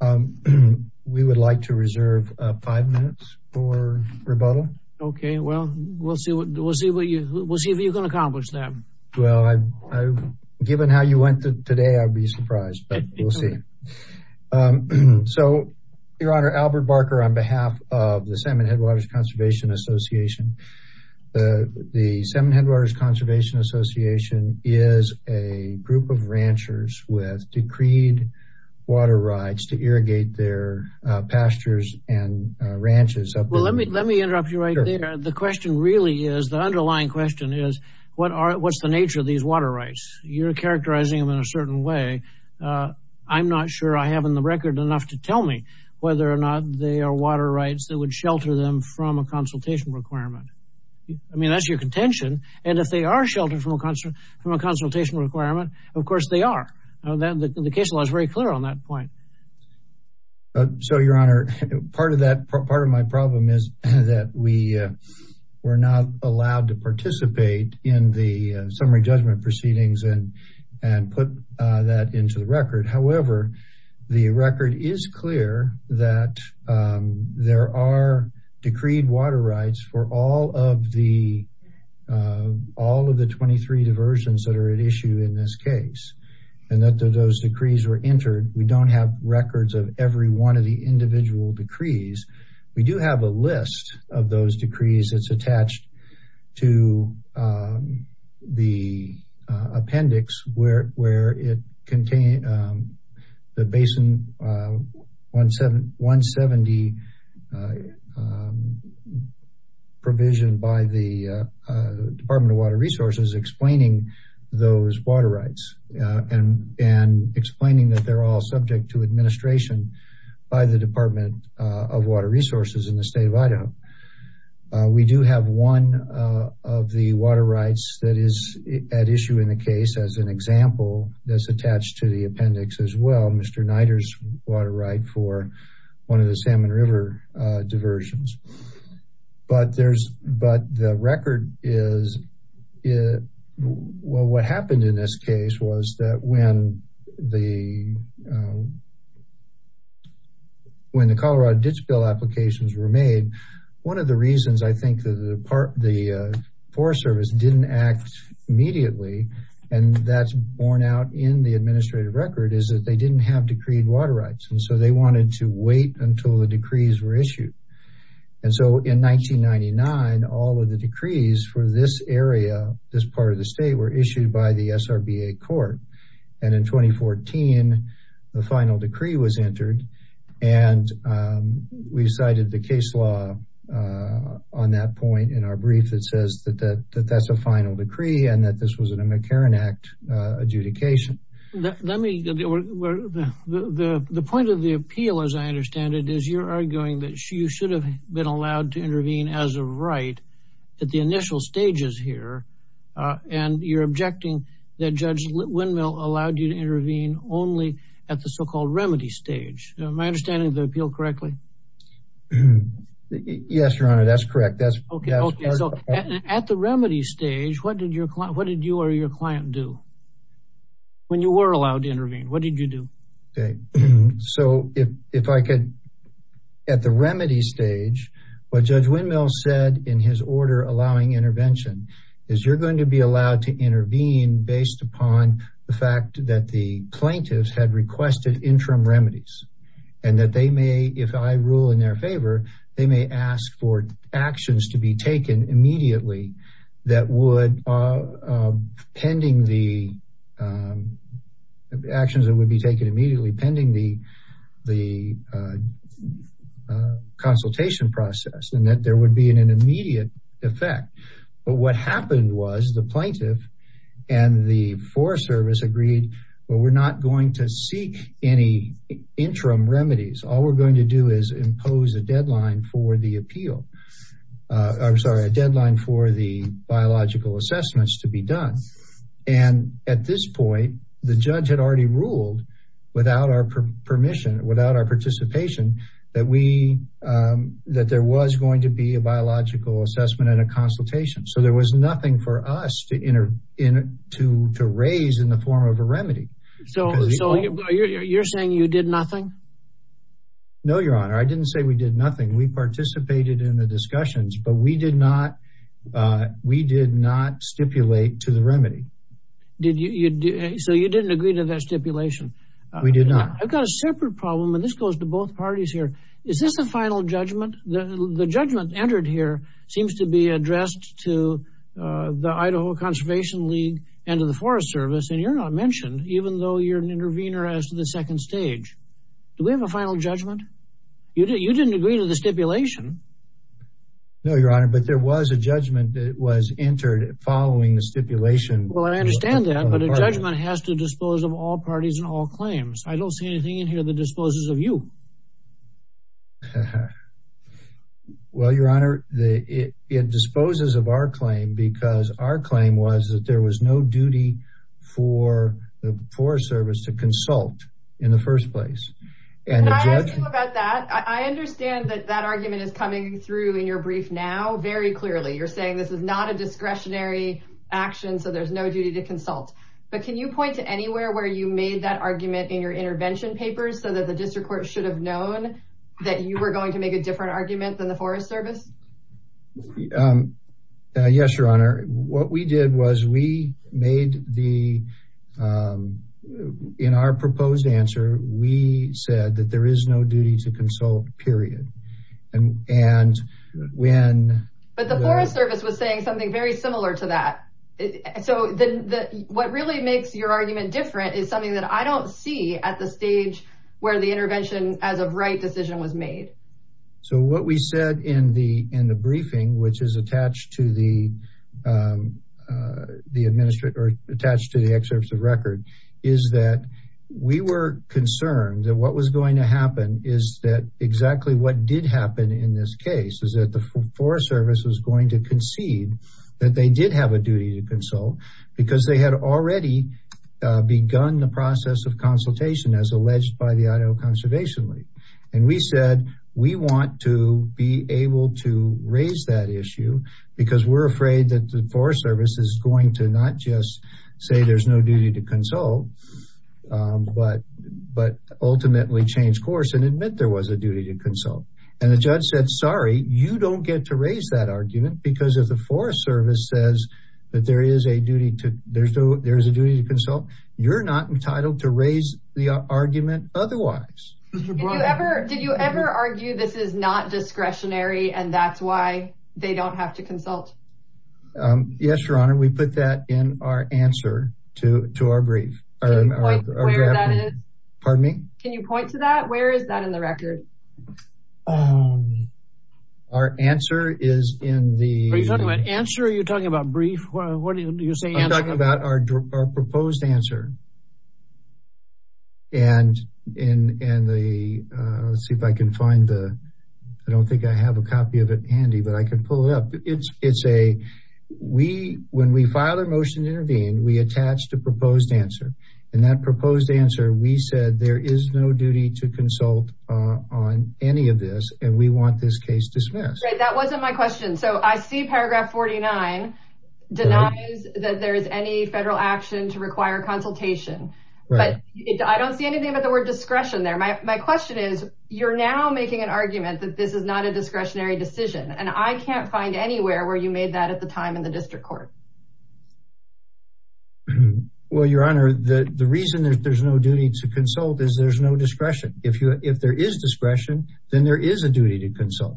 Um, we would like to reserve five minutes for rebuttal. Okay, well, we'll see. We'll see what you will see if you can accomplish that. Well, I've given how you went today, I'd be surprised, but we'll see. So, Your Honor, Albert Barker on behalf of the Salmon Headwaters Conservation Association. The Salmon Headwaters Conservation Association is a group of water rights to irrigate their pastures and ranches. Well, let me interrupt you right there. The question really is, the underlying question is, what's the nature of these water rights? You're characterizing them in a certain way. I'm not sure I have in the record enough to tell me whether or not they are water rights that would shelter them from a consultation requirement. I mean, that's your contention, and if they are sheltered from a consultation requirement, of course, they are. The case law is very clear on that point. So, Your Honor, part of that, part of my problem is that we were not allowed to participate in the summary judgment proceedings and put that into the record. However, the record is clear that there are decreed water rights for all of the 23 diversions that are at issue in this records of every one of the individual decrees. We do have a list of those decrees. It's attached to the appendix where it contains the Basin 170 provision by the Department of Water Resources explaining those water rights and explaining that they're all subject to administration by the Department of Water Resources in the state of Idaho. We do have one of the water rights that is at issue in the case as an example that's attached to the appendix as well. Mr. Niter's water right for one of the Salmon River diversions, but there's but the record is well, what happened in this case was that when the when the Colorado Ditch Bill applications were made, one of the reasons I think that the Forest Service didn't act immediately and that's borne out in the administrative record is that they didn't have decreed water rights and so they wanted to wait until the decrees were issued and so in 1999, all of the decrees for this area, this part of the final decree was entered and we decided the case law on that point in our brief that says that that that's a final decree and that this was in a McCarran Act adjudication. Let me the point of the appeal as I understand it is you're arguing that you should have been allowed to intervene as a right at the initial stages here and you're objecting that Judge Windmill allowed you to intervene only at the so-called remedy stage. My understanding of the appeal correctly. Yes, your honor. That's correct. That's okay. Okay. So at the remedy stage, what did your what did you or your client do when you were allowed to intervene? What did you do? Okay, so if I could at the remedy stage, what Judge Windmill said in his order allowing intervention is you're going to be allowed to intervene based upon the fact that the plaintiffs had requested interim remedies and that they may if I rule in their favor, they may ask for actions to be taken immediately that would pending the actions that would be taken immediately pending the the consultation process and that there would be an immediate effect. But what happened was the plaintiff and the Forest Service agreed. Well, we're not going to seek any interim remedies. All we're going to do is impose a deadline for the appeal. I'm sorry a deadline for the biological assessments to be done and at this point, the judge had already ruled without our permission without our participation that we that there was going to be a biological assessment and a nothing for us to enter in to to raise in the form of a remedy. So you're saying you did nothing. No, your honor. I didn't say we did nothing. We participated in the discussions, but we did not. We did not stipulate to the remedy. Did you so you didn't agree to that stipulation? We did not. I've got a separate problem and this goes to both parties here. Is this a final judgment? The judgment entered here seems to be addressed to the Idaho Conservation League and to the Forest Service and you're not mentioned even though you're an intervener as to the second stage. Do we have a final judgment? You didn't agree to the stipulation. No, your honor, but there was a judgment that was entered following the stipulation. Well, I understand that, but a judgment has to dispose of all parties and all claims. I don't see anything in here that disposes of you. Well, your honor, it disposes of our claim because our claim was that there was no duty for the Forest Service to consult in the first place. Can I ask you about that? I understand that that argument is coming through in your brief now very clearly. You're saying this is not a discretionary action, so there's no duty to consult, but can you point to anywhere where you made that argument in your intervention papers so that the district court should have known that you were going to make a different argument than the Forest Service? Yes, your honor. What we did was we made the in our proposed answer. We said that there is no duty to consult period and when but the Forest Service was saying something very similar to that. So then what really makes your argument different is something that I don't see at the stage where the intervention as of right decision was made. So what we said in the in the briefing, which is attached to the. The administrator attached to the excerpts of record is that we were concerned that what was going to happen is that exactly what did happen in this case is that the Forest Service was going to concede that they did have a duty to consult because they had already begun the process of consultation as alleged by the Idaho Conservation League and we said we want to be able to raise that issue because we're afraid that the Forest Service is going to not just say there's no duty to consult. But but ultimately change course and admit there was a duty to consult and the judge said sorry you don't get to raise that argument because of the Forest Service says that there is a duty to there's no there's a duty to consult. You're not entitled to raise the argument. Otherwise, did you ever did you ever argue this is not discretionary and that's why they don't have to consult? Yes, your honor. We put that in our answer to to our brief. Pardon me. Can you point to that? Where is that in the Are you talking about answer? Are you talking about brief? What do you say? I'm talking about our our proposed answer. And and and the let's see if I can find the I don't think I have a copy of it handy, but I can pull it up. It's it's a we when we file a motion to intervene, we attached a proposed answer and that proposed answer we said there is no duty to consult on any of this and we want this case dismissed. That wasn't my question. so I see paragraph forty-nine denies that there is any federal action to require consultation, but I don't see anything about the word discretion there. My my question is you're now making an argument that this is not a discretionary decision and I can't find anywhere where you made that at the time in the district court. Well, your honor the the reason there's no duty to consult is there's no discretion if you if there is discretion, then there is a duty to consult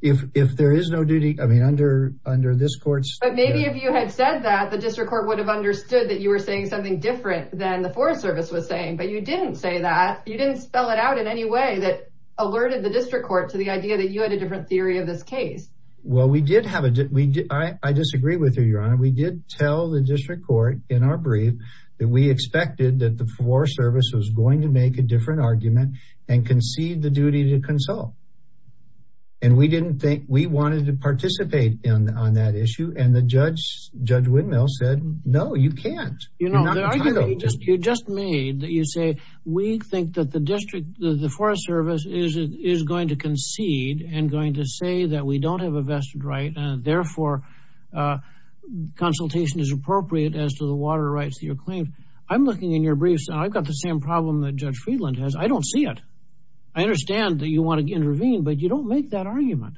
if if there is no duty. I mean under under this court, but maybe if you had said that the district court would have understood that you were saying something different than the Forest Service was saying, but you didn't say that you didn't spell it out in any way that alerted the district court to the idea that you had a different theory of this case. Well, we did have a we did II disagree with you your honor. We did tell the district court in our brief that we expected that the Forest Service was going to make a different argument and concede the duty to consult and we didn't think we wanted to participate in on that issue and the judge Judge Windmill said no you can't you know you just you just made that you say we think that the district the Forest Service is it is going to concede and going to say that we don't have a vested right and therefore consultation is appropriate as to the water rights that you're claiming. I'm looking in your briefs and I've got the same problem that Judge Friedland has. I don't see it. I understand that you want to intervene, but you don't make that argument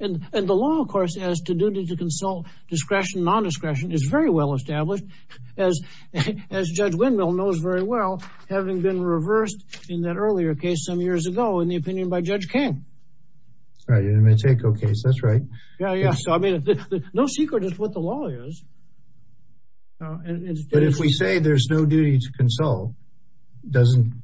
and and the law of course has to do to consult discretion nondiscretion is very well established as as Judge Windmill knows very well having been reversed in that earlier case some years ago in the opinion by Judge King. Alright, you're going to take okay. So that's right. Yeah. Yeah. So I mean no secret is what the law is. But if we say there's no duty to consult doesn't.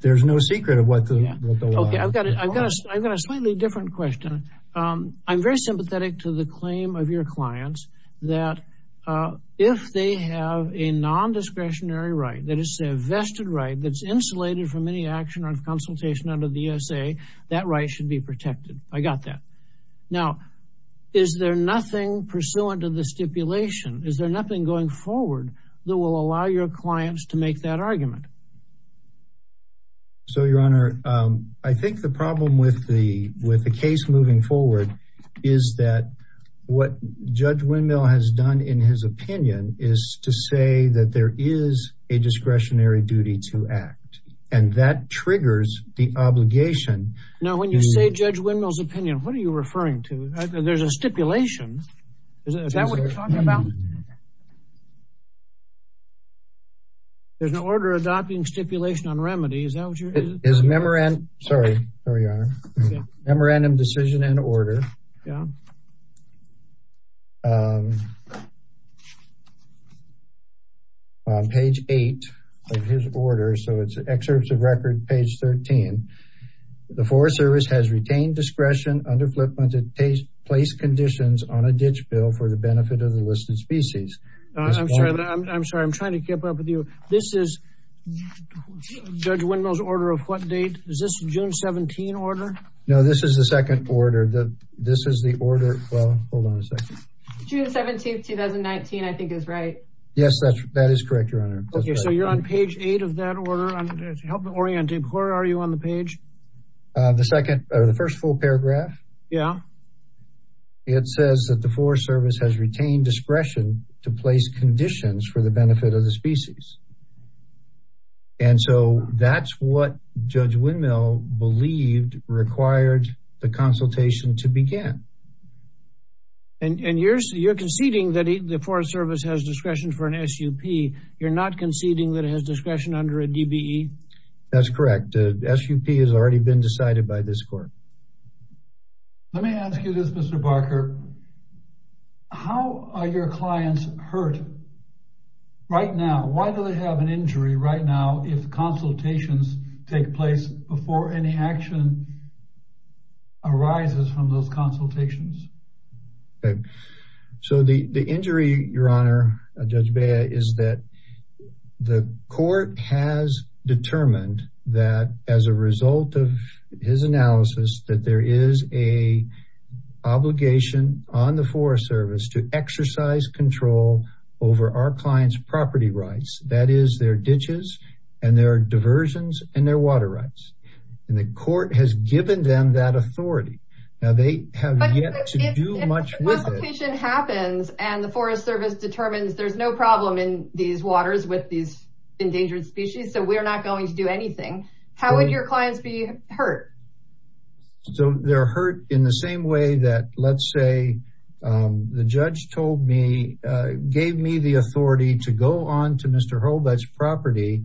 There's no secret of what the okay. I've got it. I've got a I've got a slightly different question. I'm very sympathetic to the claim of your clients that if they have a nondiscretionary right that is a vested right that's insulated from any action or consultation under the USA that right should be protected. I got that now is there nothing pursuant to the stipulation is there nothing going forward that will allow your clients to make that argument. So your honor, I think the problem with the with the case moving forward is that what Judge Windmill has done in his opinion is to say that there is a discretionary duty to act and that triggers the obligation. Now when you say Judge Windmill's opinion, what are you referring to? There's a there's an order adopting stipulation on remedy. Is that what you're doing? It's memorandum. Sorry. Sorry, your honor. Memorandum decision and order. Yeah. Page eight of his order. So it's excerpts of record page thirteen. The Forest Service has retained discretion under flip-flopped to place conditions on a ditch bill for the benefit of the listed species. I'm sorry that I I'm sorry. I'm trying to keep up with you. This is Judge Windmill's order of what date is this June seventeen order? No, this is the second order that this is the order. Well, hold on a second. June 17th 2019. I think is right. Yes, that's that is correct. Your honor. Okay. So you're on page eight of that order on help orienting. Where are you on the page? The second or the first full paragraph. Yeah. It says that the Forest Service has retained discretion to place conditions for the benefit of the species. And so that's what Judge Windmill believed required the consultation to begin. And and you're you're conceding that the Forest Service has discretion for an SUP. You're not conceding that it has discretion under a DBE. That's correct. The SUP has already been decided by this court. Let me ask you this right now. Why do they have an injury right now if consultations take place before any action arises from those consultations? So the the injury your honor Judge Bea is that the court has determined that as a result of his analysis that there is a obligation on the Forest Service to exercise control over our clients property rights. That is their ditches and their diversions and their water rights and the court has given them that authority. Now they have yet to do much with it happens and the Forest Service determines there's no problem in these waters with these endangered species. So we're not going to do anything. How would your clients be hurt? So they're hurt in the same way that let's say the judge told me gave me the authority to go on to Mr. Hobart's property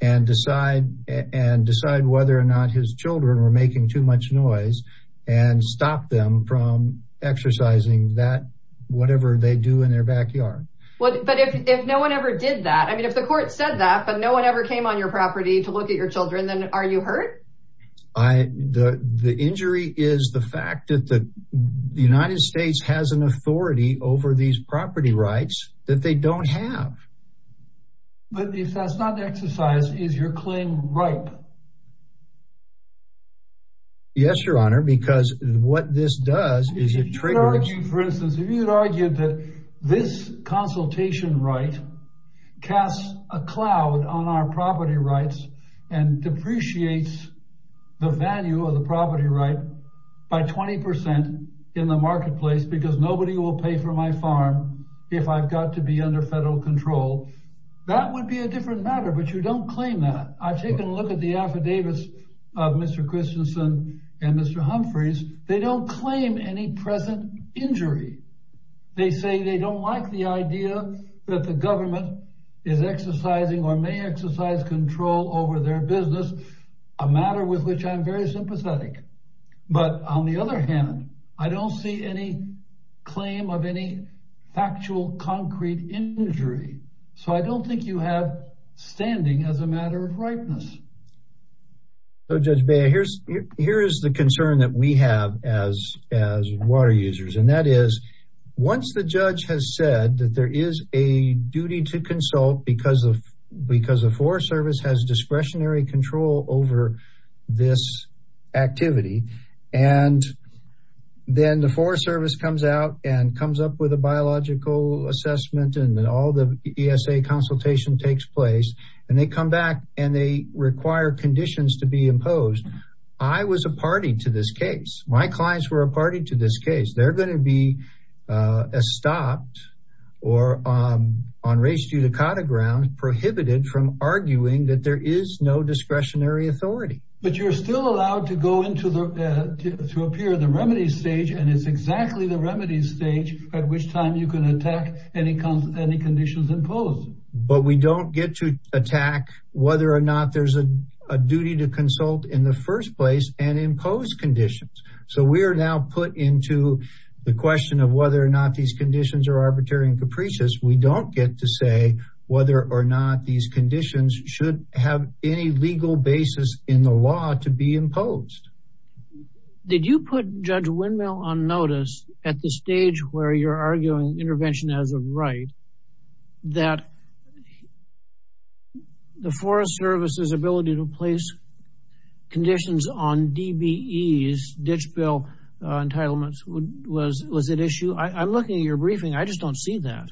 and decide and decide whether or not his children were making too much noise and stop them from exercising that whatever they do in their backyard. What but if if no one ever did that, I mean if the court said that but no one ever came on your property to look at your The United States has an authority over these property rights that they don't have. But if that's not the exercise is your claim ripe. Yes, your honor because what this does is it triggers for instance, if you'd argued that this consultation right casts a cloud on our property rights and depreciates the value of the property right by 20% in the marketplace because nobody will pay for my farm. If I've got to be under federal control, that would be a different matter, but you don't claim that I've taken a look at the affidavits of Mr. Christensen and Mr. Humphries. They don't claim any present injury. They say they don't like the idea that the government is exercising or may exercise control over their business, a matter with which I'm very sympathetic. But on the other hand, I don't see any claim of any factual concrete injury. So I don't think you have standing as a matter of ripeness. So Judge Bea, here's here's the concern that we have as as water users and that is once the judge has said that there is a duty to consult because of because the Forest Service has discretionary control over this activity and then the Forest Service comes out and comes up with a biological assessment and then all the ESA consultation takes place and they come back and they require conditions to be imposed. I was a party to this case. My clients were a party to this case. They're going to be stopped or on race judicata grounds prohibited from arguing that there is no discretionary authority. But you're still allowed to go into the to appear the remedy stage and it's exactly the remedy stage at which time you can attack any any conditions imposed. But we don't get to attack whether or not there's a duty to consult in the first place and impose conditions. So we are now put into the question of whether or not these conditions are or not these conditions should have any legal basis in the law to be imposed. Did you put Judge Windmill on notice at the stage where you're arguing intervention as a right that the Forest Service's ability to place conditions on DBE's ditch bill entitlements was was an issue? I'm looking at your briefing. I just don't see that.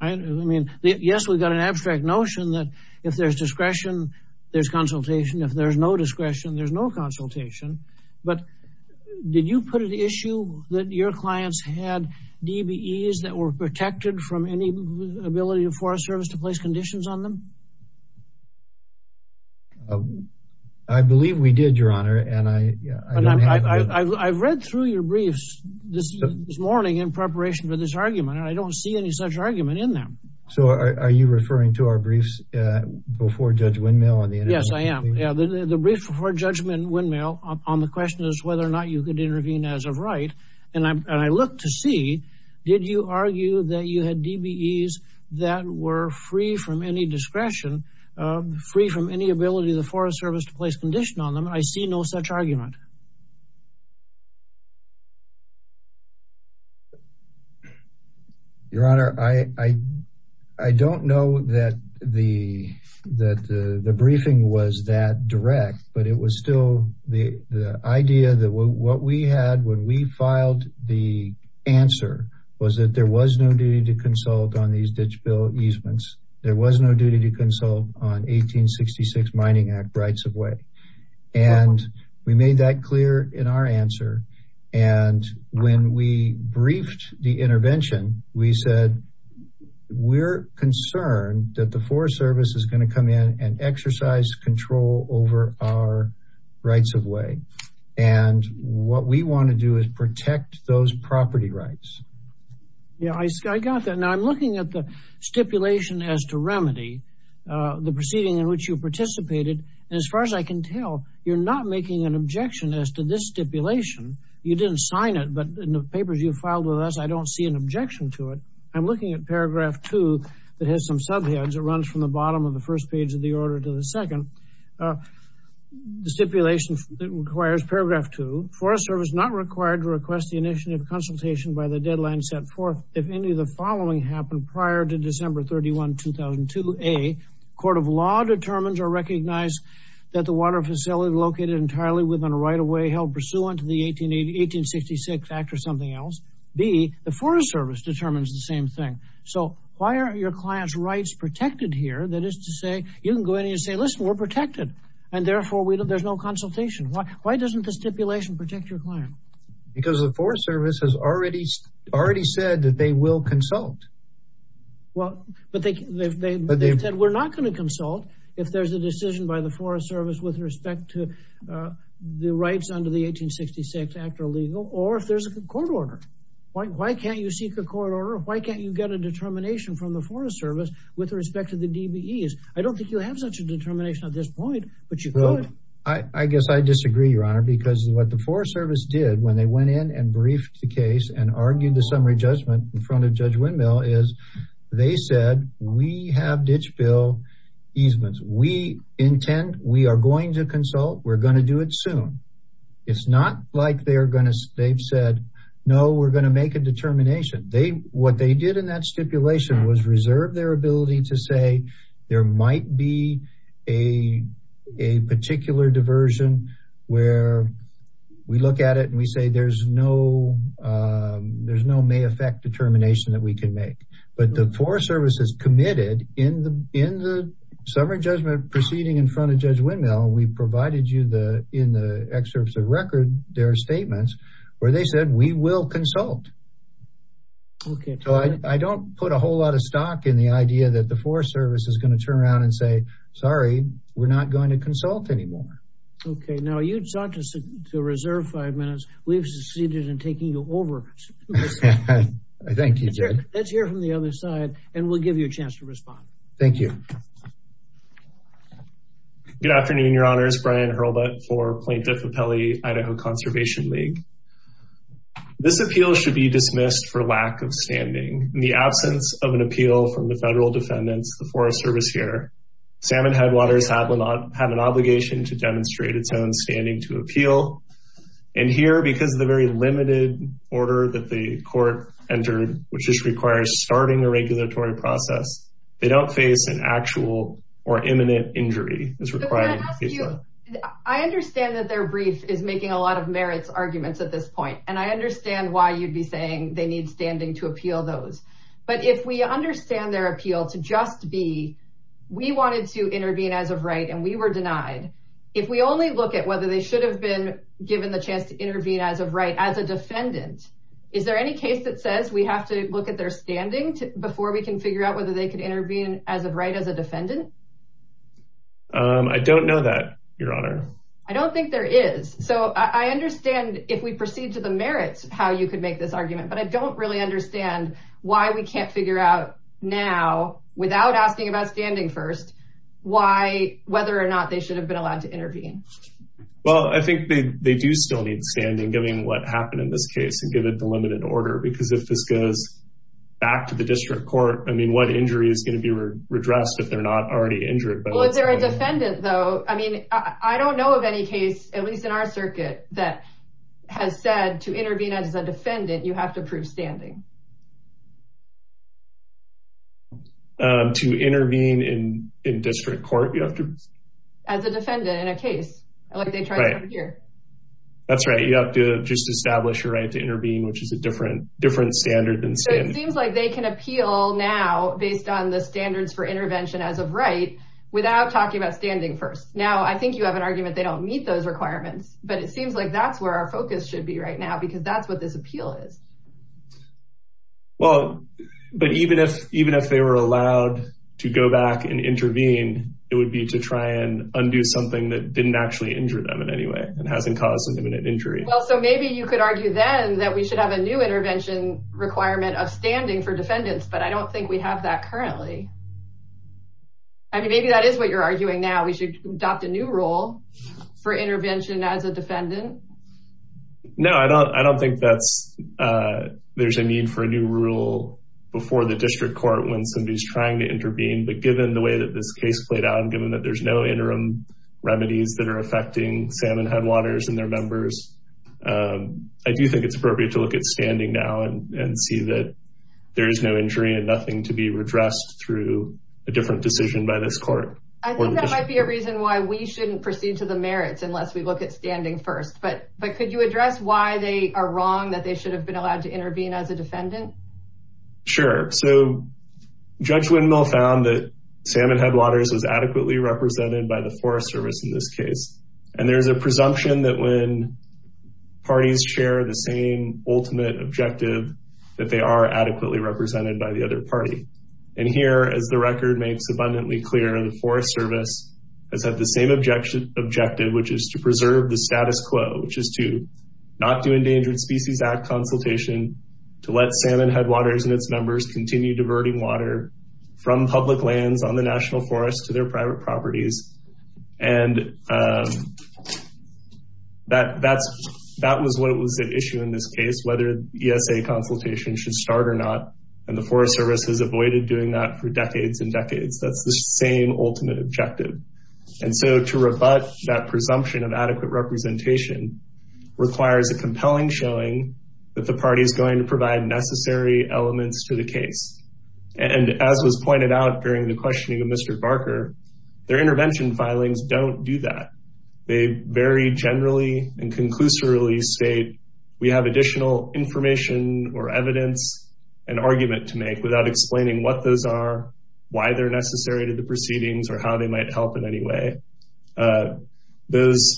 I mean, yes, we've got an abstract notion that if there's discretion, there's consultation. If there's no discretion, there's no consultation. But did you put an issue that your clients had DBE's that were protected from any ability of Forest Service to place conditions on them? I believe we did, Your Honor, and I I've read through your briefs this morning in preparation for this argument, and I don't see any such argument in them. So are you referring to our briefs before Judge Windmill? Yes, I am. Yeah, the brief before Judge Windmill on the question is whether or not you could intervene as a right. And I look to see, did you argue that you had DBE's that were free from any discretion, free from any ability of the Forest Service to place condition on them? I see no such argument. Your Honor, I don't know that the briefing was that direct, but it was still the idea that what we had when we filed the answer was that there was no duty to consult on these ditch bill easements. There was no duty to consult on 1866 Mining Act rights of way. And we made that clear in our answer. And when we briefed the intervention, we said, we're concerned that the Forest Service is going to come in and exercise control over our rights of way. And what we want to do is protect those property rights. Yeah, I got that. Now I'm looking at the stipulation as to remedy the proceeding in which you participated. And as far as I can tell, you're not making an objection as to this stipulation. You didn't sign it, but in the papers you filed with us, I don't see an objection to it. I'm looking at paragraph two that has some subheads. It runs from the bottom of the first page of the order to the second. The stipulation that requires paragraph two, Forest Service not required to request the initiative consultation by the deadline set forth. If any of the following happened prior to December 31, 2002, a court of law determines or recognize that the water facility located entirely within a right of way held pursuant to the 1886 Act or something else. B, the Forest Service determines the same thing. So why aren't your clients' rights protected here? That is to say, you can go in and say, listen, we're protected. And therefore, there's no consultation. Why doesn't the stipulation protect your client? Because the Forest Service has already said that they will consult. Well, but they said we're not going to consult if there's a decision by the Forest Service with respect to the rights under the 1866 Act are illegal, or if there's a court order. Why can't you seek a court order? Why can't you get a determination from the Forest Service with respect to the DBEs? I don't think you have such a determination at this point, but you could. I guess I disagree, Your Honor, because what the Forest Service did when they went in and briefed the case and argued the summary judgment in front of Judge Windmill is they said, we have ditch bill easements. We intend, we are going to consult, we're going to do it soon. It's not like they're going to, they've said, no, we're going to make a determination. They, what they did in that stipulation was reserve their ability to say there might be a particular diversion where we look at it and we say there's no, there's no may affect determination that we can make, but the Forest Service is committed in the summary judgment proceeding in front of Judge Windmill. We provided you the, in the excerpts of record, their statements where they said we will consult. Okay, so I don't put a whole lot of stock in the idea that the Forest Service is going to turn around and say, sorry, we're not going to consult anymore. Okay, now you sought to reserve five minutes. We've succeeded in taking you over. I think you did. Let's hear from the other side and we'll give you a chance to respond. Thank you. Good afternoon, your honors. Brian Hurlbutt for Plaintiff Appellee Idaho Conservation League. This appeal should be dismissed for lack of standing. In the absence of an appeal from the federal defendants, the Forest Service here, Salmon Headwaters have an obligation to demonstrate its own standing to appeal. And because of the very limited order that the court entered, which just requires starting a regulatory process, they don't face an actual or imminent injury. I understand that their brief is making a lot of merits arguments at this point, and I understand why you'd be saying they need standing to appeal those. But if we understand their appeal to just be, we wanted to intervene as of right, and we were denied. If we only look at whether they should have been given the chance to intervene as of right as a defendant, is there any case that says we have to look at their standing before we can figure out whether they could intervene as of right as a defendant? I don't know that, your honor. I don't think there is. So I understand if we proceed to the merits, how you could make this argument, but I don't really understand why we can't figure out now without asking about standing first, why whether or not they should have been allowed to intervene. Well, I think they do still need standing given what happened in this case and given the limited order, because if this goes back to the district court, I mean, what injury is going to be redressed if they're not already injured? Well, if they're a defendant, though, I mean, I don't know of any case, at least in our circuit, that has said to intervene as a defendant, you have to prove standing. To intervene in district court, you have to... As a defendant in a case. That's right. You have to just establish your right to intervene, which is a different standard than standing. So it seems like they can appeal now based on the standards for intervention as of right without talking about standing first. Now, I think you have an argument they don't meet those requirements, but it seems like that's where our focus should be right now, because that's what this appeal is. Well, but even if they were allowed to go back and undo something that didn't actually injure them in any way and hasn't caused an imminent injury. Well, so maybe you could argue then that we should have a new intervention requirement of standing for defendants, but I don't think we have that currently. I mean, maybe that is what you're arguing now. We should adopt a new rule for intervention as a defendant. No, I don't think there's a need for a new rule before the district court when somebody is trying to intervene. But given the way that this case played out and given that there's no interim remedies that are affecting Salmon Headwaters and their members, I do think it's appropriate to look at standing now and see that there is no injury and nothing to be redressed through a different decision by this court. I think that might be a reason why we shouldn't proceed to the merits unless we look at standing first, but could you address why they are wrong that they should have been allowed to intervene as a defendant? Sure. So Judge Windmill found that Salmon Headwaters was by the Forest Service in this case. And there's a presumption that when parties share the same ultimate objective, that they are adequately represented by the other party. And here, as the record makes abundantly clear, the Forest Service has had the same objective, which is to preserve the status quo, which is to not do Endangered Species Act consultation, to let Salmon Headwaters and its members continue diverting water from public lands on the national forest to their private properties. And that was what was at issue in this case, whether ESA consultation should start or not. And the Forest Service has avoided doing that for decades and decades. That's the same ultimate objective. And so to rebut that presumption of adequate representation requires a compelling showing that the party is going to provide necessary elements to the case. And as was pointed out during the questioning of Mr. Barker, their intervention filings don't do that. They very generally and conclusively state we have additional information or evidence, an argument to make without explaining what those are, why they're necessary to the proceedings or how they might help in any way. Those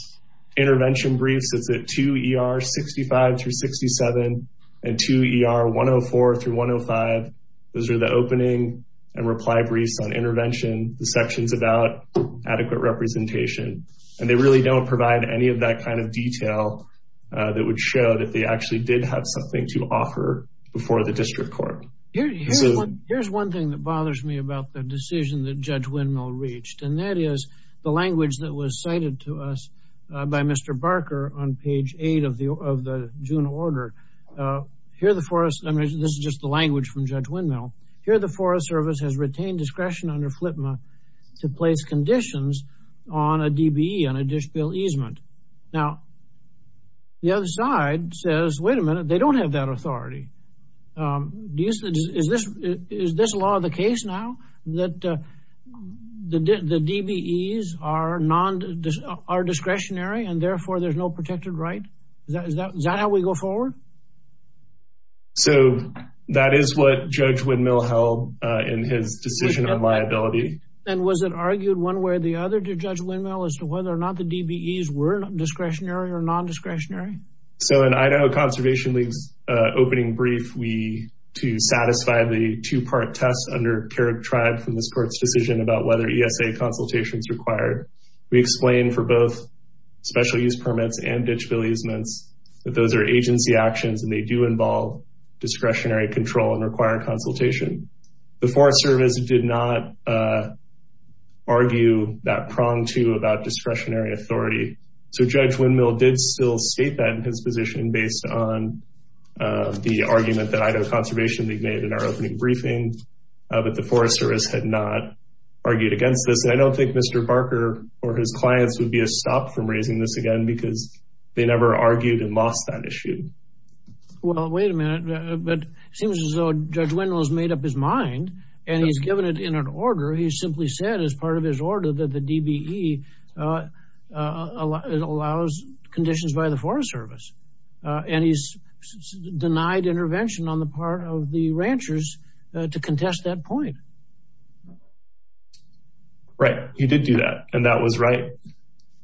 intervention briefs, it's at 2 ER 65 through 67 and 2 ER 104 through 105. Those are the opening and reply briefs on intervention, the sections about adequate representation. And they really don't provide any of that kind of detail that would show that they actually did have something to offer before the district court. Here's one thing that bothers me about the decision that Judge Windmill reached, and that is the language that was cited to us by Mr. Barker on page 8 of the June order. Here, the forest, I mean, this is just the language from Judge Windmill. Here, the Forest Service has retained discretion under FLTMA to place conditions on a DBE on a dish bill easement. Now, the other side says, wait a minute, they don't have that authority. Is this law of the case now that the DBEs are discretionary and therefore there's no protected right? Is that how we go forward? So that is what Judge Windmill held in his decision on liability. And was it argued one way or the other to Judge Windmill as to whether or not the DBEs were discretionary or non-discretionary? So in Idaho Conservation League's opening brief, we, to satisfy the two-part test under Kerrick Tribe from this court's decision about whether ESA consultations required, we explained for both special use permits and they do involve discretionary control and require consultation. The Forest Service did not argue that prong to about discretionary authority. So Judge Windmill did still state that in his position based on the argument that Idaho Conservation League made in our opening briefing, but the Forest Service had not argued against this. And I don't think Mr. Barker or his clients would be a stop from raising this again because they never argued and lost that issue. Well, wait a minute. But it seems as though Judge Windmill has made up his mind and he's given it in an order. He simply said as part of his order that the DBE allows conditions by the Forest Service. And he's denied intervention on the part of the ranchers to contest that point. Right. He did do that. And that was right.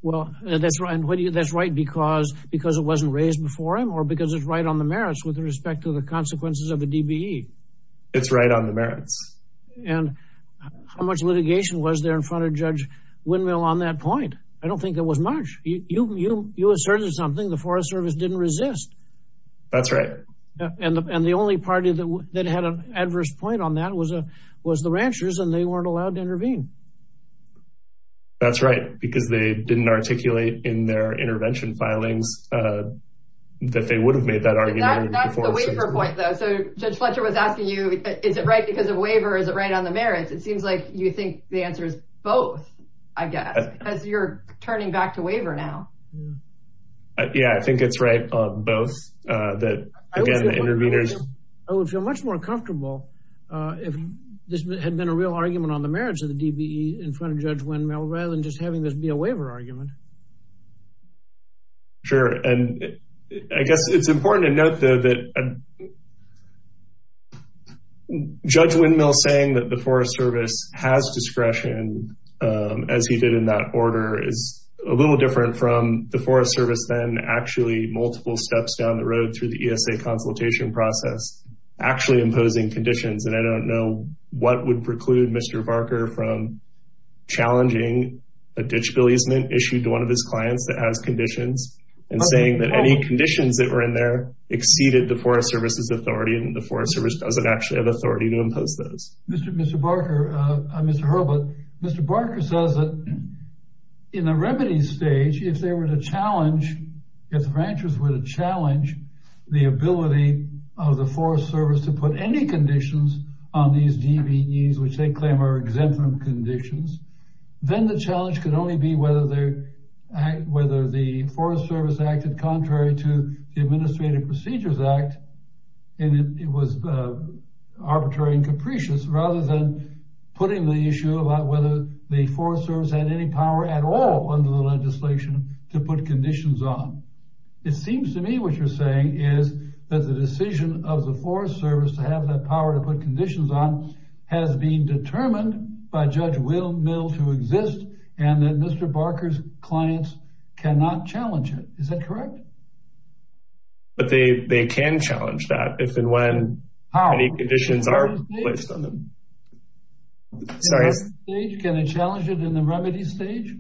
Well, that's right. And that's right because it wasn't raised before him or because it's right on the merits with respect to the consequences of the DBE. It's right on the merits. And how much litigation was there in front of Judge Windmill on that point? I don't think it was much. You asserted something. The Forest Service didn't resist. That's right. And the only party that had an adverse point on that was the ranchers, and they weren't allowed to intervene. That's right, because they didn't articulate in their argument. That's the waiver point, though. So Judge Fletcher was asking you, is it right because of waiver? Is it right on the merits? It seems like you think the answer is both, I guess, as you're turning back to waiver now. Yeah, I think it's right on both. I would feel much more comfortable if this had been a real argument on the merits of the DBE in front of Judge Windmill rather than just having this be a waiver argument. Sure. And I guess it's important to note, though, that Judge Windmill saying that the Forest Service has discretion, as he did in that order, is a little different from the Forest Service then actually multiple steps down the road through the ESA consultation process actually imposing conditions. And I don't know what would preclude Mr. Barker from challenging a ditch bill easement issued to one of his clients that has conditions and saying that any conditions that were in there exceeded the Forest Service's authority and the Forest Service doesn't actually have authority to impose those. Mr. Herbert, Mr. Barker says that in the remedy stage, if they were to challenge, if the ranchers were to challenge the ability of the Forest Service to put any conditions on these DBEs, which they claim are exempt from conditions, then the challenge could only be whether the Forest Service acted contrary to the Administrative Procedures Act, and it was arbitrary and capricious rather than putting the issue about whether the Forest Service had any power at all under the legislation to put conditions on. It seems to me what you're saying is that the decision of the Forest Service to have that power to put conditions on has been determined by Judge Will Mill to exist and that Mr. Barker's clients cannot challenge it. Is that correct? But they can challenge that if and when any conditions are placed on them. Can they challenge it in the remedy stage?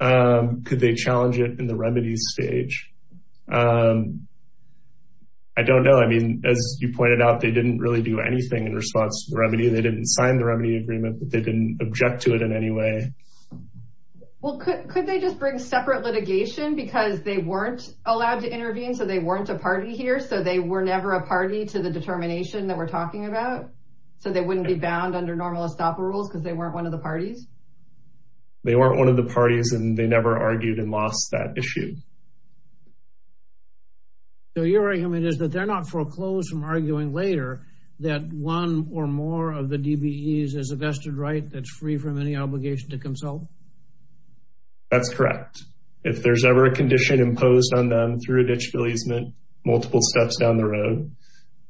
Could they challenge it in the remedy stage? I don't know. As you pointed out, they didn't really do anything in response to the remedy. They didn't sign the remedy agreement, but they didn't object to it in any way. Well, could they just bring separate litigation because they weren't allowed to intervene? So they weren't a party here. So they were never a party to the determination that we're talking about. So they wouldn't be bound under normal ESTAPA rules because they weren't one of the parties. They weren't one of the parties, and they never argued and lost that issue. So your argument is that they're not foreclosed from arguing later that one or more of the DBEs is a vested right that's free from any obligation to consult? That's correct. If there's ever a condition imposed on them through a ditch releasement multiple steps down the road,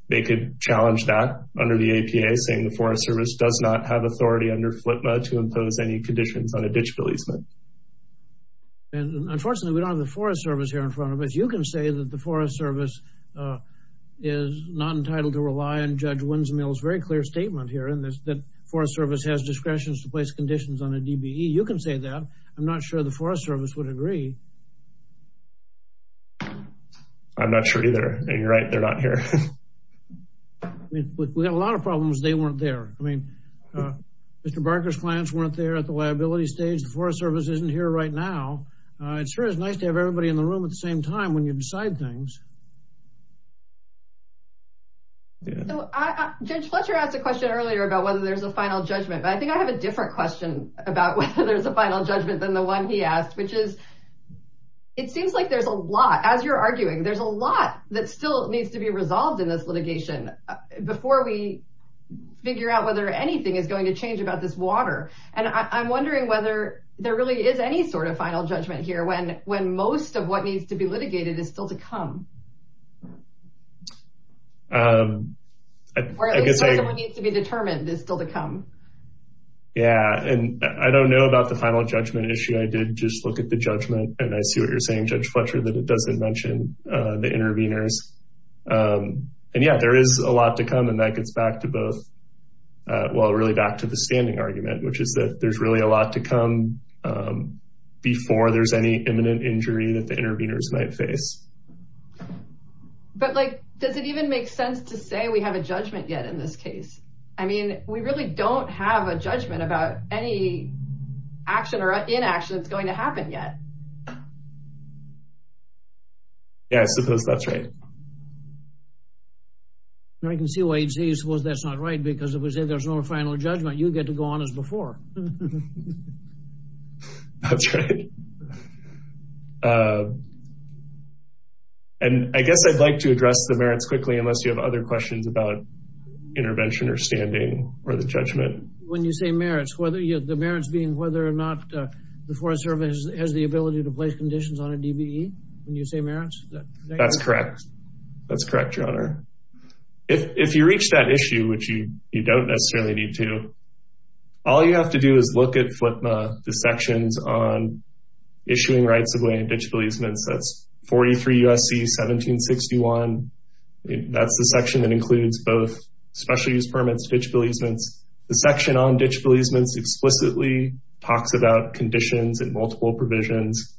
they could challenge that under the APA, saying the Forest Service does not have authority under FLTMA to impose any conditions on a ditch releasement. And unfortunately, we don't have the Forest Service. Here in front of us, you can say that the Forest Service is not entitled to rely on Judge Winsmill's very clear statement here in this that Forest Service has discretion to place conditions on a DBE. You can say that. I'm not sure the Forest Service would agree. I'm not sure either. And you're right. They're not here. We had a lot of problems. They weren't there. I mean, Mr. Barker's clients weren't there at the liability stage. The Forest Service isn't here right now. It sure is nice to have everybody in the room at the same time when you decide things. Judge Fletcher asked a question earlier about whether there's a final judgment. But I think I have a different question about whether there's a final judgment than the one he asked, which is it seems like there's a lot. As you're arguing, there's a lot that still needs to be resolved in this litigation before we figure out whether anything is going to change about this water. And I'm wondering whether there really is any sort of final judgment here when most of what needs to be litigated is still to come, or at least what needs to be determined is still to come. Yeah. And I don't know about the final judgment issue. I did just look at the judgment, and I see what you're saying, Judge Fletcher, that it doesn't mention the interveners. And, yeah, there is a lot to come. And that gets back to both. Well, really back to the standing argument, which is that there's really a lot to come before there's any imminent injury that the interveners might face. But does it even make sense to say we have a judgment yet in this case? I mean, we really don't have a judgment about any action or inaction that's going to happen yet. Yeah, I suppose that's right. I can see why you'd say you suppose that's not right, because if we say there's no final judgment, you get to go on as before. That's right. And I guess I'd like to address the merits quickly, unless you have other questions about intervention or standing or the judgment. When you say merits, the merits being whether or not the Forest Service has the ability to place conditions on a DBE, when you say merits? That's correct. That's correct, Your Honor. If you reach that issue, which you don't necessarily need to, all you have to do is look at FLIPMA, the sections on issuing rights of way and ditch beleasements. That's 43 U.S.C. 1761. That's the section that includes both special use permits, ditch beleasements. The section on ditch beleasements explicitly talks about conditions and multiple provisions.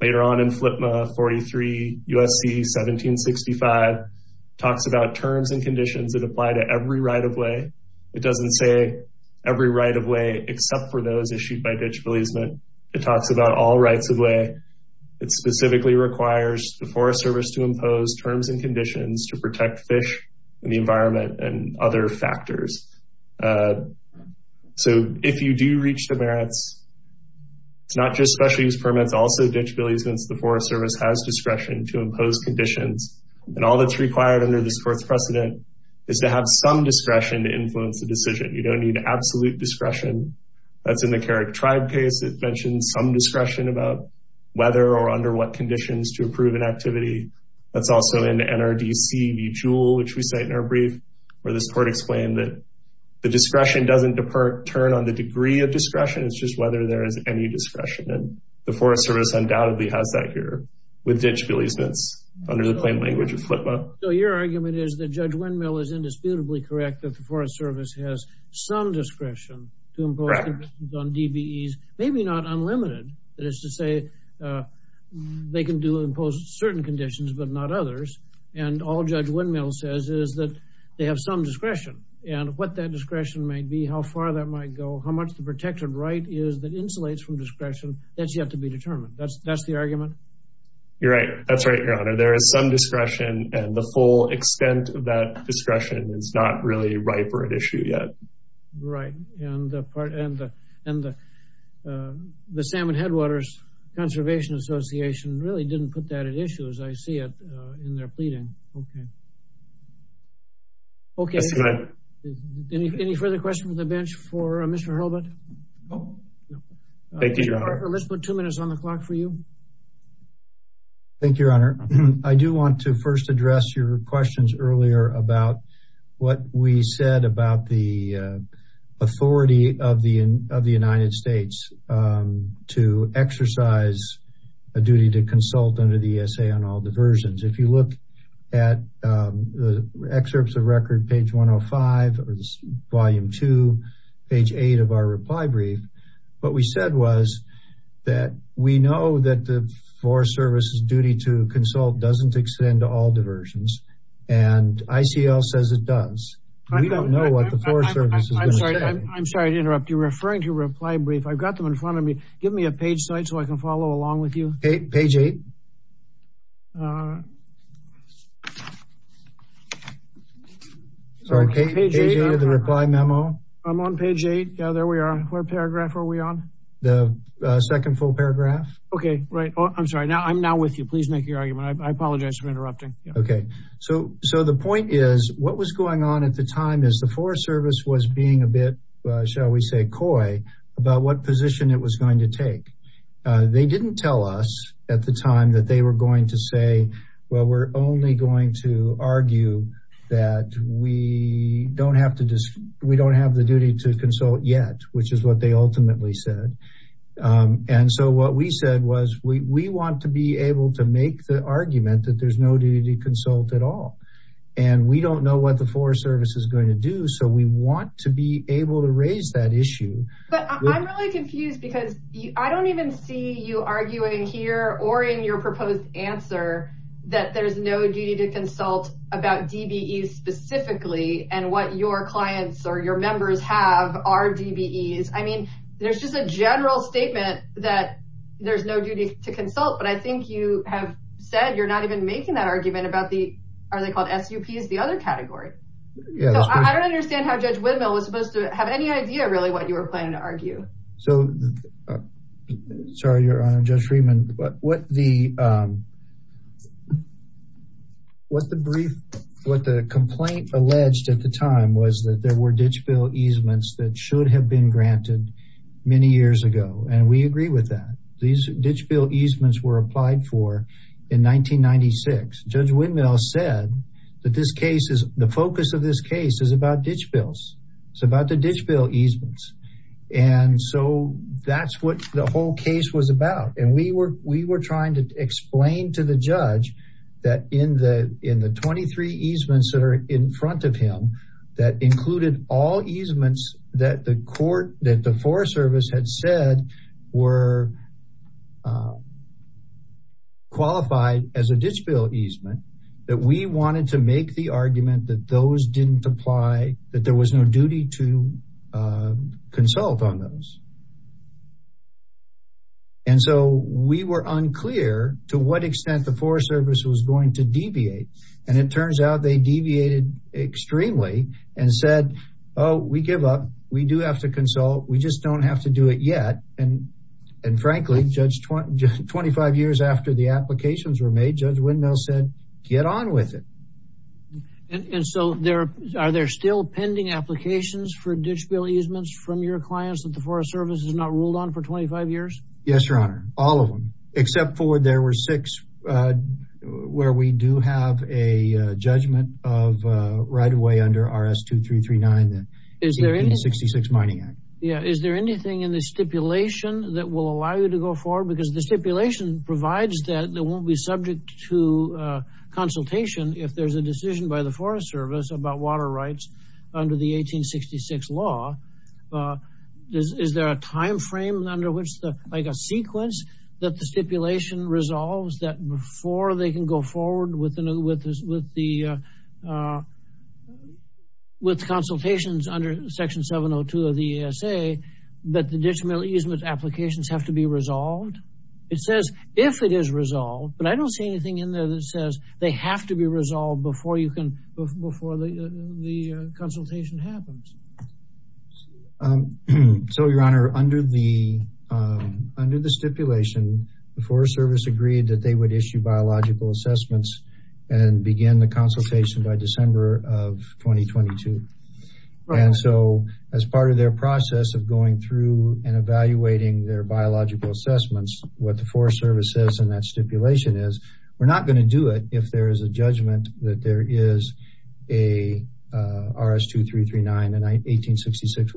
Later on in FLIPMA, 43 U.S.C. 1765 talks about terms and conditions that apply to every right of way. It doesn't say every right of way, except for those issued by ditch beleasement. It talks about all rights of way. It specifically requires the Forest Service to impose terms and conditions to protect fish and the environment and other factors. So if you do reach the merits, it's not just special use permits, also ditch beleasements, the Forest Service has discretion to impose conditions. And all that's required under this Fourth Precedent is to some discretion to influence the decision. You don't need absolute discretion. That's in the Carrick Tribe case. It mentions some discretion about whether or under what conditions to approve an activity. That's also in NRDC v. Jewell, which we cite in our brief, where this court explained that the discretion doesn't turn on the degree of discretion. It's just whether there is any discretion. And the Forest Service undoubtedly has that here with ditch beleasements under the plain language of FLIPMA. So your argument is that Judge Windmill is indisputably correct that the Forest Service has some discretion to impose on DBEs, maybe not unlimited. That is to say, they can do impose certain conditions, but not others. And all Judge Windmill says is that they have some discretion and what that discretion might be, how far that might go, how much the protected right is that insulates from discretion. That's yet to be determined. That's the argument. You're right. That's right, Your Honor. There is some discretion, and the full extent of that discretion is not really ripe for an issue yet. Right. And the Salmon Headwaters Conservation Association really didn't put that at issue, as I see it in their pleading. Okay. Okay. Any further questions from the bench for Mr. Hurlbutt? Thank you, Your Honor. Let's put two minutes on the clock for you. Thank you, Your Honor. I do want to first address your questions earlier about what we said about the authority of the United States to exercise a duty to consult under the ESA on all diversions. If you look at the excerpts of record, page 105, or volume two, page eight of our reply brief, what we said was that we know that the Forest Service's duty to consult doesn't extend to all diversions, and ICL says it does. We don't know what the Forest Service is going to say. I'm sorry to interrupt. You're referring to reply brief. I've got them in front of me. Give me a page site so I can follow along with you. Page eight. Sorry, page eight of the reply memo. I'm on page eight. Yeah, there we are. What paragraph are we on? The second full paragraph. Okay, right. I'm sorry. I'm now with you. Please make your argument. I apologize for interrupting. Okay, so the point is what was going on at the time is the Forest Service was being a bit, shall we say, coy about what position it was going to take. They didn't tell us at the time that they were going to say, well, we're only going to argue that we don't have the duty to consult. And so what we said was we want to be able to make the argument that there's no duty to consult at all, and we don't know what the Forest Service is going to do. So we want to be able to raise that issue. But I'm really confused because I don't even see you arguing here or in your proposed answer that there's no duty to consult about DBE specifically and what your clients or your members have are DBEs. There's just a general statement that there's no duty to consult, but I think you have said you're not even making that argument about the, are they called SUPs, the other category. So I don't understand how Judge Widmill was supposed to have any idea, really, what you were planning to argue. So sorry, Your Honor, Judge Friedman, but what the brief, what the complaint alleged at the time was that there were many years ago. And we agree with that. These Ditch Bill easements were applied for in 1996. Judge Widmill said that this case is the focus of this case is about Ditch Bills. It's about the Ditch Bill easements. And so that's what the whole case was about. And we were trying to explain to the judge that in the 23 easements that are in front of him that included all easements that the court, that the Forest Service had said were qualified as a Ditch Bill easement, that we wanted to make the argument that those didn't apply, that there was no duty to consult on those. And so we were unclear to what extent the Forest Service was going to deviate. And it turns out they deviated extremely and said, oh, we give up. We do have to consult. We just don't have to do it yet. And frankly, Judge, 25 years after the applications were made, Judge Widmill said, get on with it. And so are there still pending applications for Ditch Bill easements from your clients that the Forest Service has not ruled on for 25 years? Yes, Your Honor. All of them, except for there were six where we do have a judgment of right away under RS-2339. Is there anything in the Stipulation that will allow you to go forward? Because the Stipulation provides that they won't be subject to consultation if there's a decision by the Forest Service about water rights under the 1866 law. Is there a time frame under which, like a sequence, that the Stipulation resolves that before they can go forward with consultations under Section 702 of the ESA that the Ditch Bill easements applications have to be resolved? It says if it is resolved, but I don't see anything in there that says they have to be resolved before the consultation happens. So, Your Honor, under the Stipulation, the Forest Service agreed that they would issue biological assessments and begin the consultation by December of 2022. And so as part of their process of going through and evaluating their biological assessments, what the Forest Service says in that Stipulation is, we're not going to do it if there is a judgment that there is a RS-2339 and 1866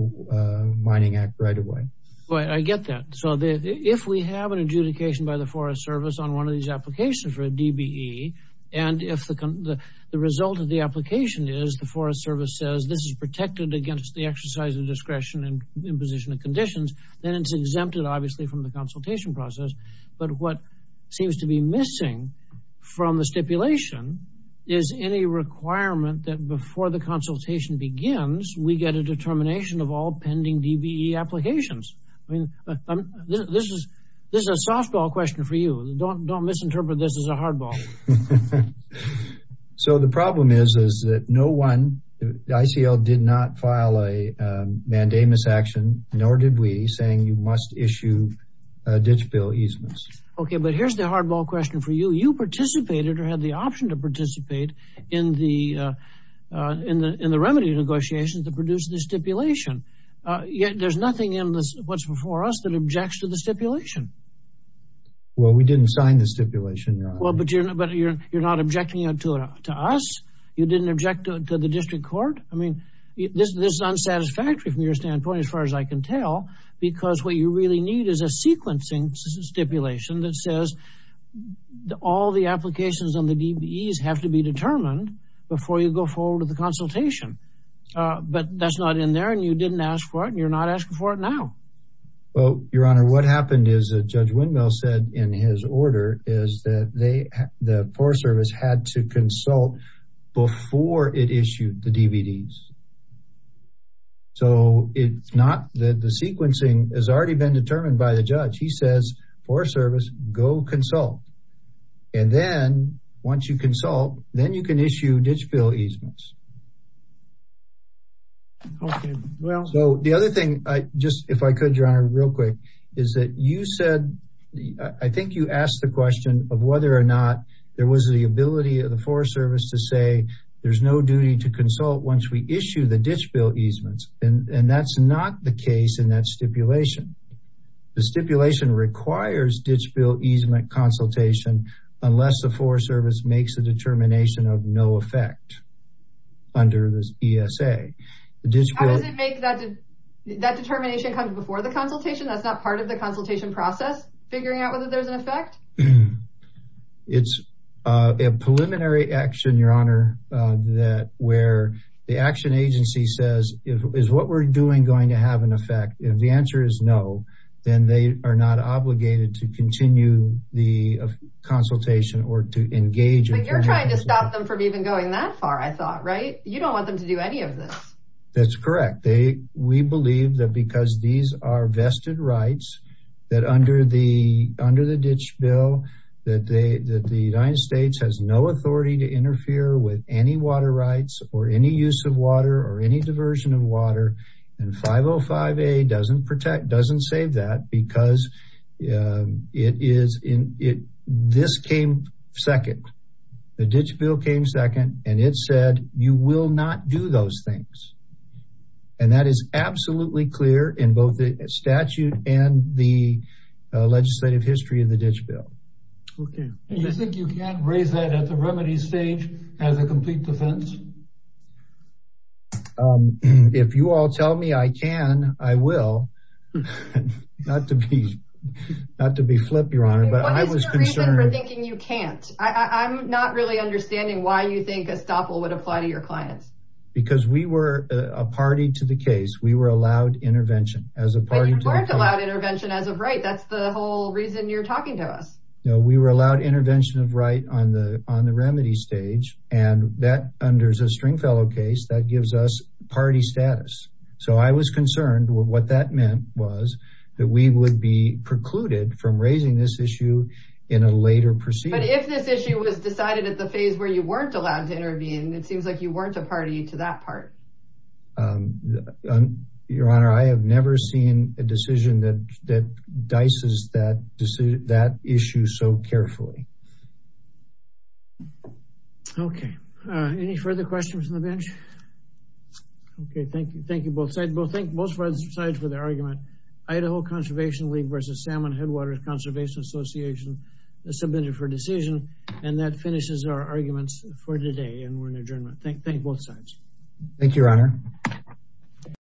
Mining Act right away. Boy, I get that. So if we have an adjudication by the Forest Service on one of these applications for a DBE, and if the result of the application is the Forest Service says this is protected against the exercise of discretion and imposition of conditions, then it's exempted, obviously, from the consultation process. But what seems to be missing from the Stipulation is any requirement that before the consultation begins, we get a determination of all pending DBE applications. I mean, this is a softball question for you. Don't misinterpret this as a hardball. So the problem is that no one, the ICL did not file a mandamus action, nor did we, saying you must issue a Ditch Bill easements. OK, but here's the hardball question for you. You participated or had the option to participate in the remedy negotiations that produced the Stipulation. Yet there's nothing in what's before us that objects to the Stipulation. Well, we didn't sign the Stipulation. Well, but you're not objecting to us. You didn't object to the district court. I mean, this is unsatisfactory from your standpoint, as far as I can tell, because what you really need is a sequencing Stipulation that says all the applications on the DBEs have to be determined before you go forward with the consultation. But that's not in there, and you didn't ask for it. You're not asking for it now. Well, Your Honor, what happened is that Judge Windmill said in his order is that the Forest Service had to consult before it issued the DBEs. So it's not that the sequencing has already been determined by the judge. He says, Forest Service, go consult. And then once you consult, then you can issue Ditch Bill easements. Okay, well. So the other thing, just if I could, Your Honor, real quick, is that you said, I think you asked the question of whether or not there was the ability of the Forest Service to say there's no duty to consult once we issue the Ditch Bill easements, and that's not the case in that Stipulation. The Stipulation requires Ditch Bill easement consultation unless the Forest Service makes a determination of no effect under the ESA. How does it make that determination come before the consultation? That's not part of the consultation process, figuring out whether there's an effect? It's a preliminary action, Your Honor, where the action agency says, is what we're doing going to have an effect? If the answer is no, then they are not obligated to continue the consultation or to engage. You're trying to stop them from even going that far, I thought, right? You don't want them to do any of this. That's correct. We believe that because these are vested rights, that under the Ditch Bill, that the United States has no authority to interfere with any water rights or any use of water or any diversion of water, and 505A doesn't protect, doesn't save that because this came second, the Ditch Bill came second, and it said you will not do those things. And that is absolutely clear in both the statute and the legislative history of the Ditch Bill. You think you can't raise that at the remedy stage as a complete defense? If you all tell me I can, I will, not to be flip, Your Honor, but I was concerned. What is your reason for thinking you can't? I'm not really understanding why you think a stopple would apply to your clients. Because we were a party to the case. We were allowed intervention as a party. But you weren't allowed intervention as of right. That's the whole reason you're talking to us. No, we were allowed intervention of right on the remedy stage, and that under the Stringfellow case, that gives us party status. So I was concerned what that meant was that we would be precluded from raising this issue in a later proceeding. But if this issue was decided at the phase where you weren't allowed to intervene, it seems like you weren't a party to that part. Your Honor, I have never seen a decision that dices that issue so carefully. Okay, any further questions on the bench? Okay, thank you. Thank you. Both sides. Well, thank both sides for the argument. Idaho Conservation League versus Salmon Headwaters Conservation Association submitted for decision, and that finishes our arguments for today. Thank both sides. Thank you, Your Honor.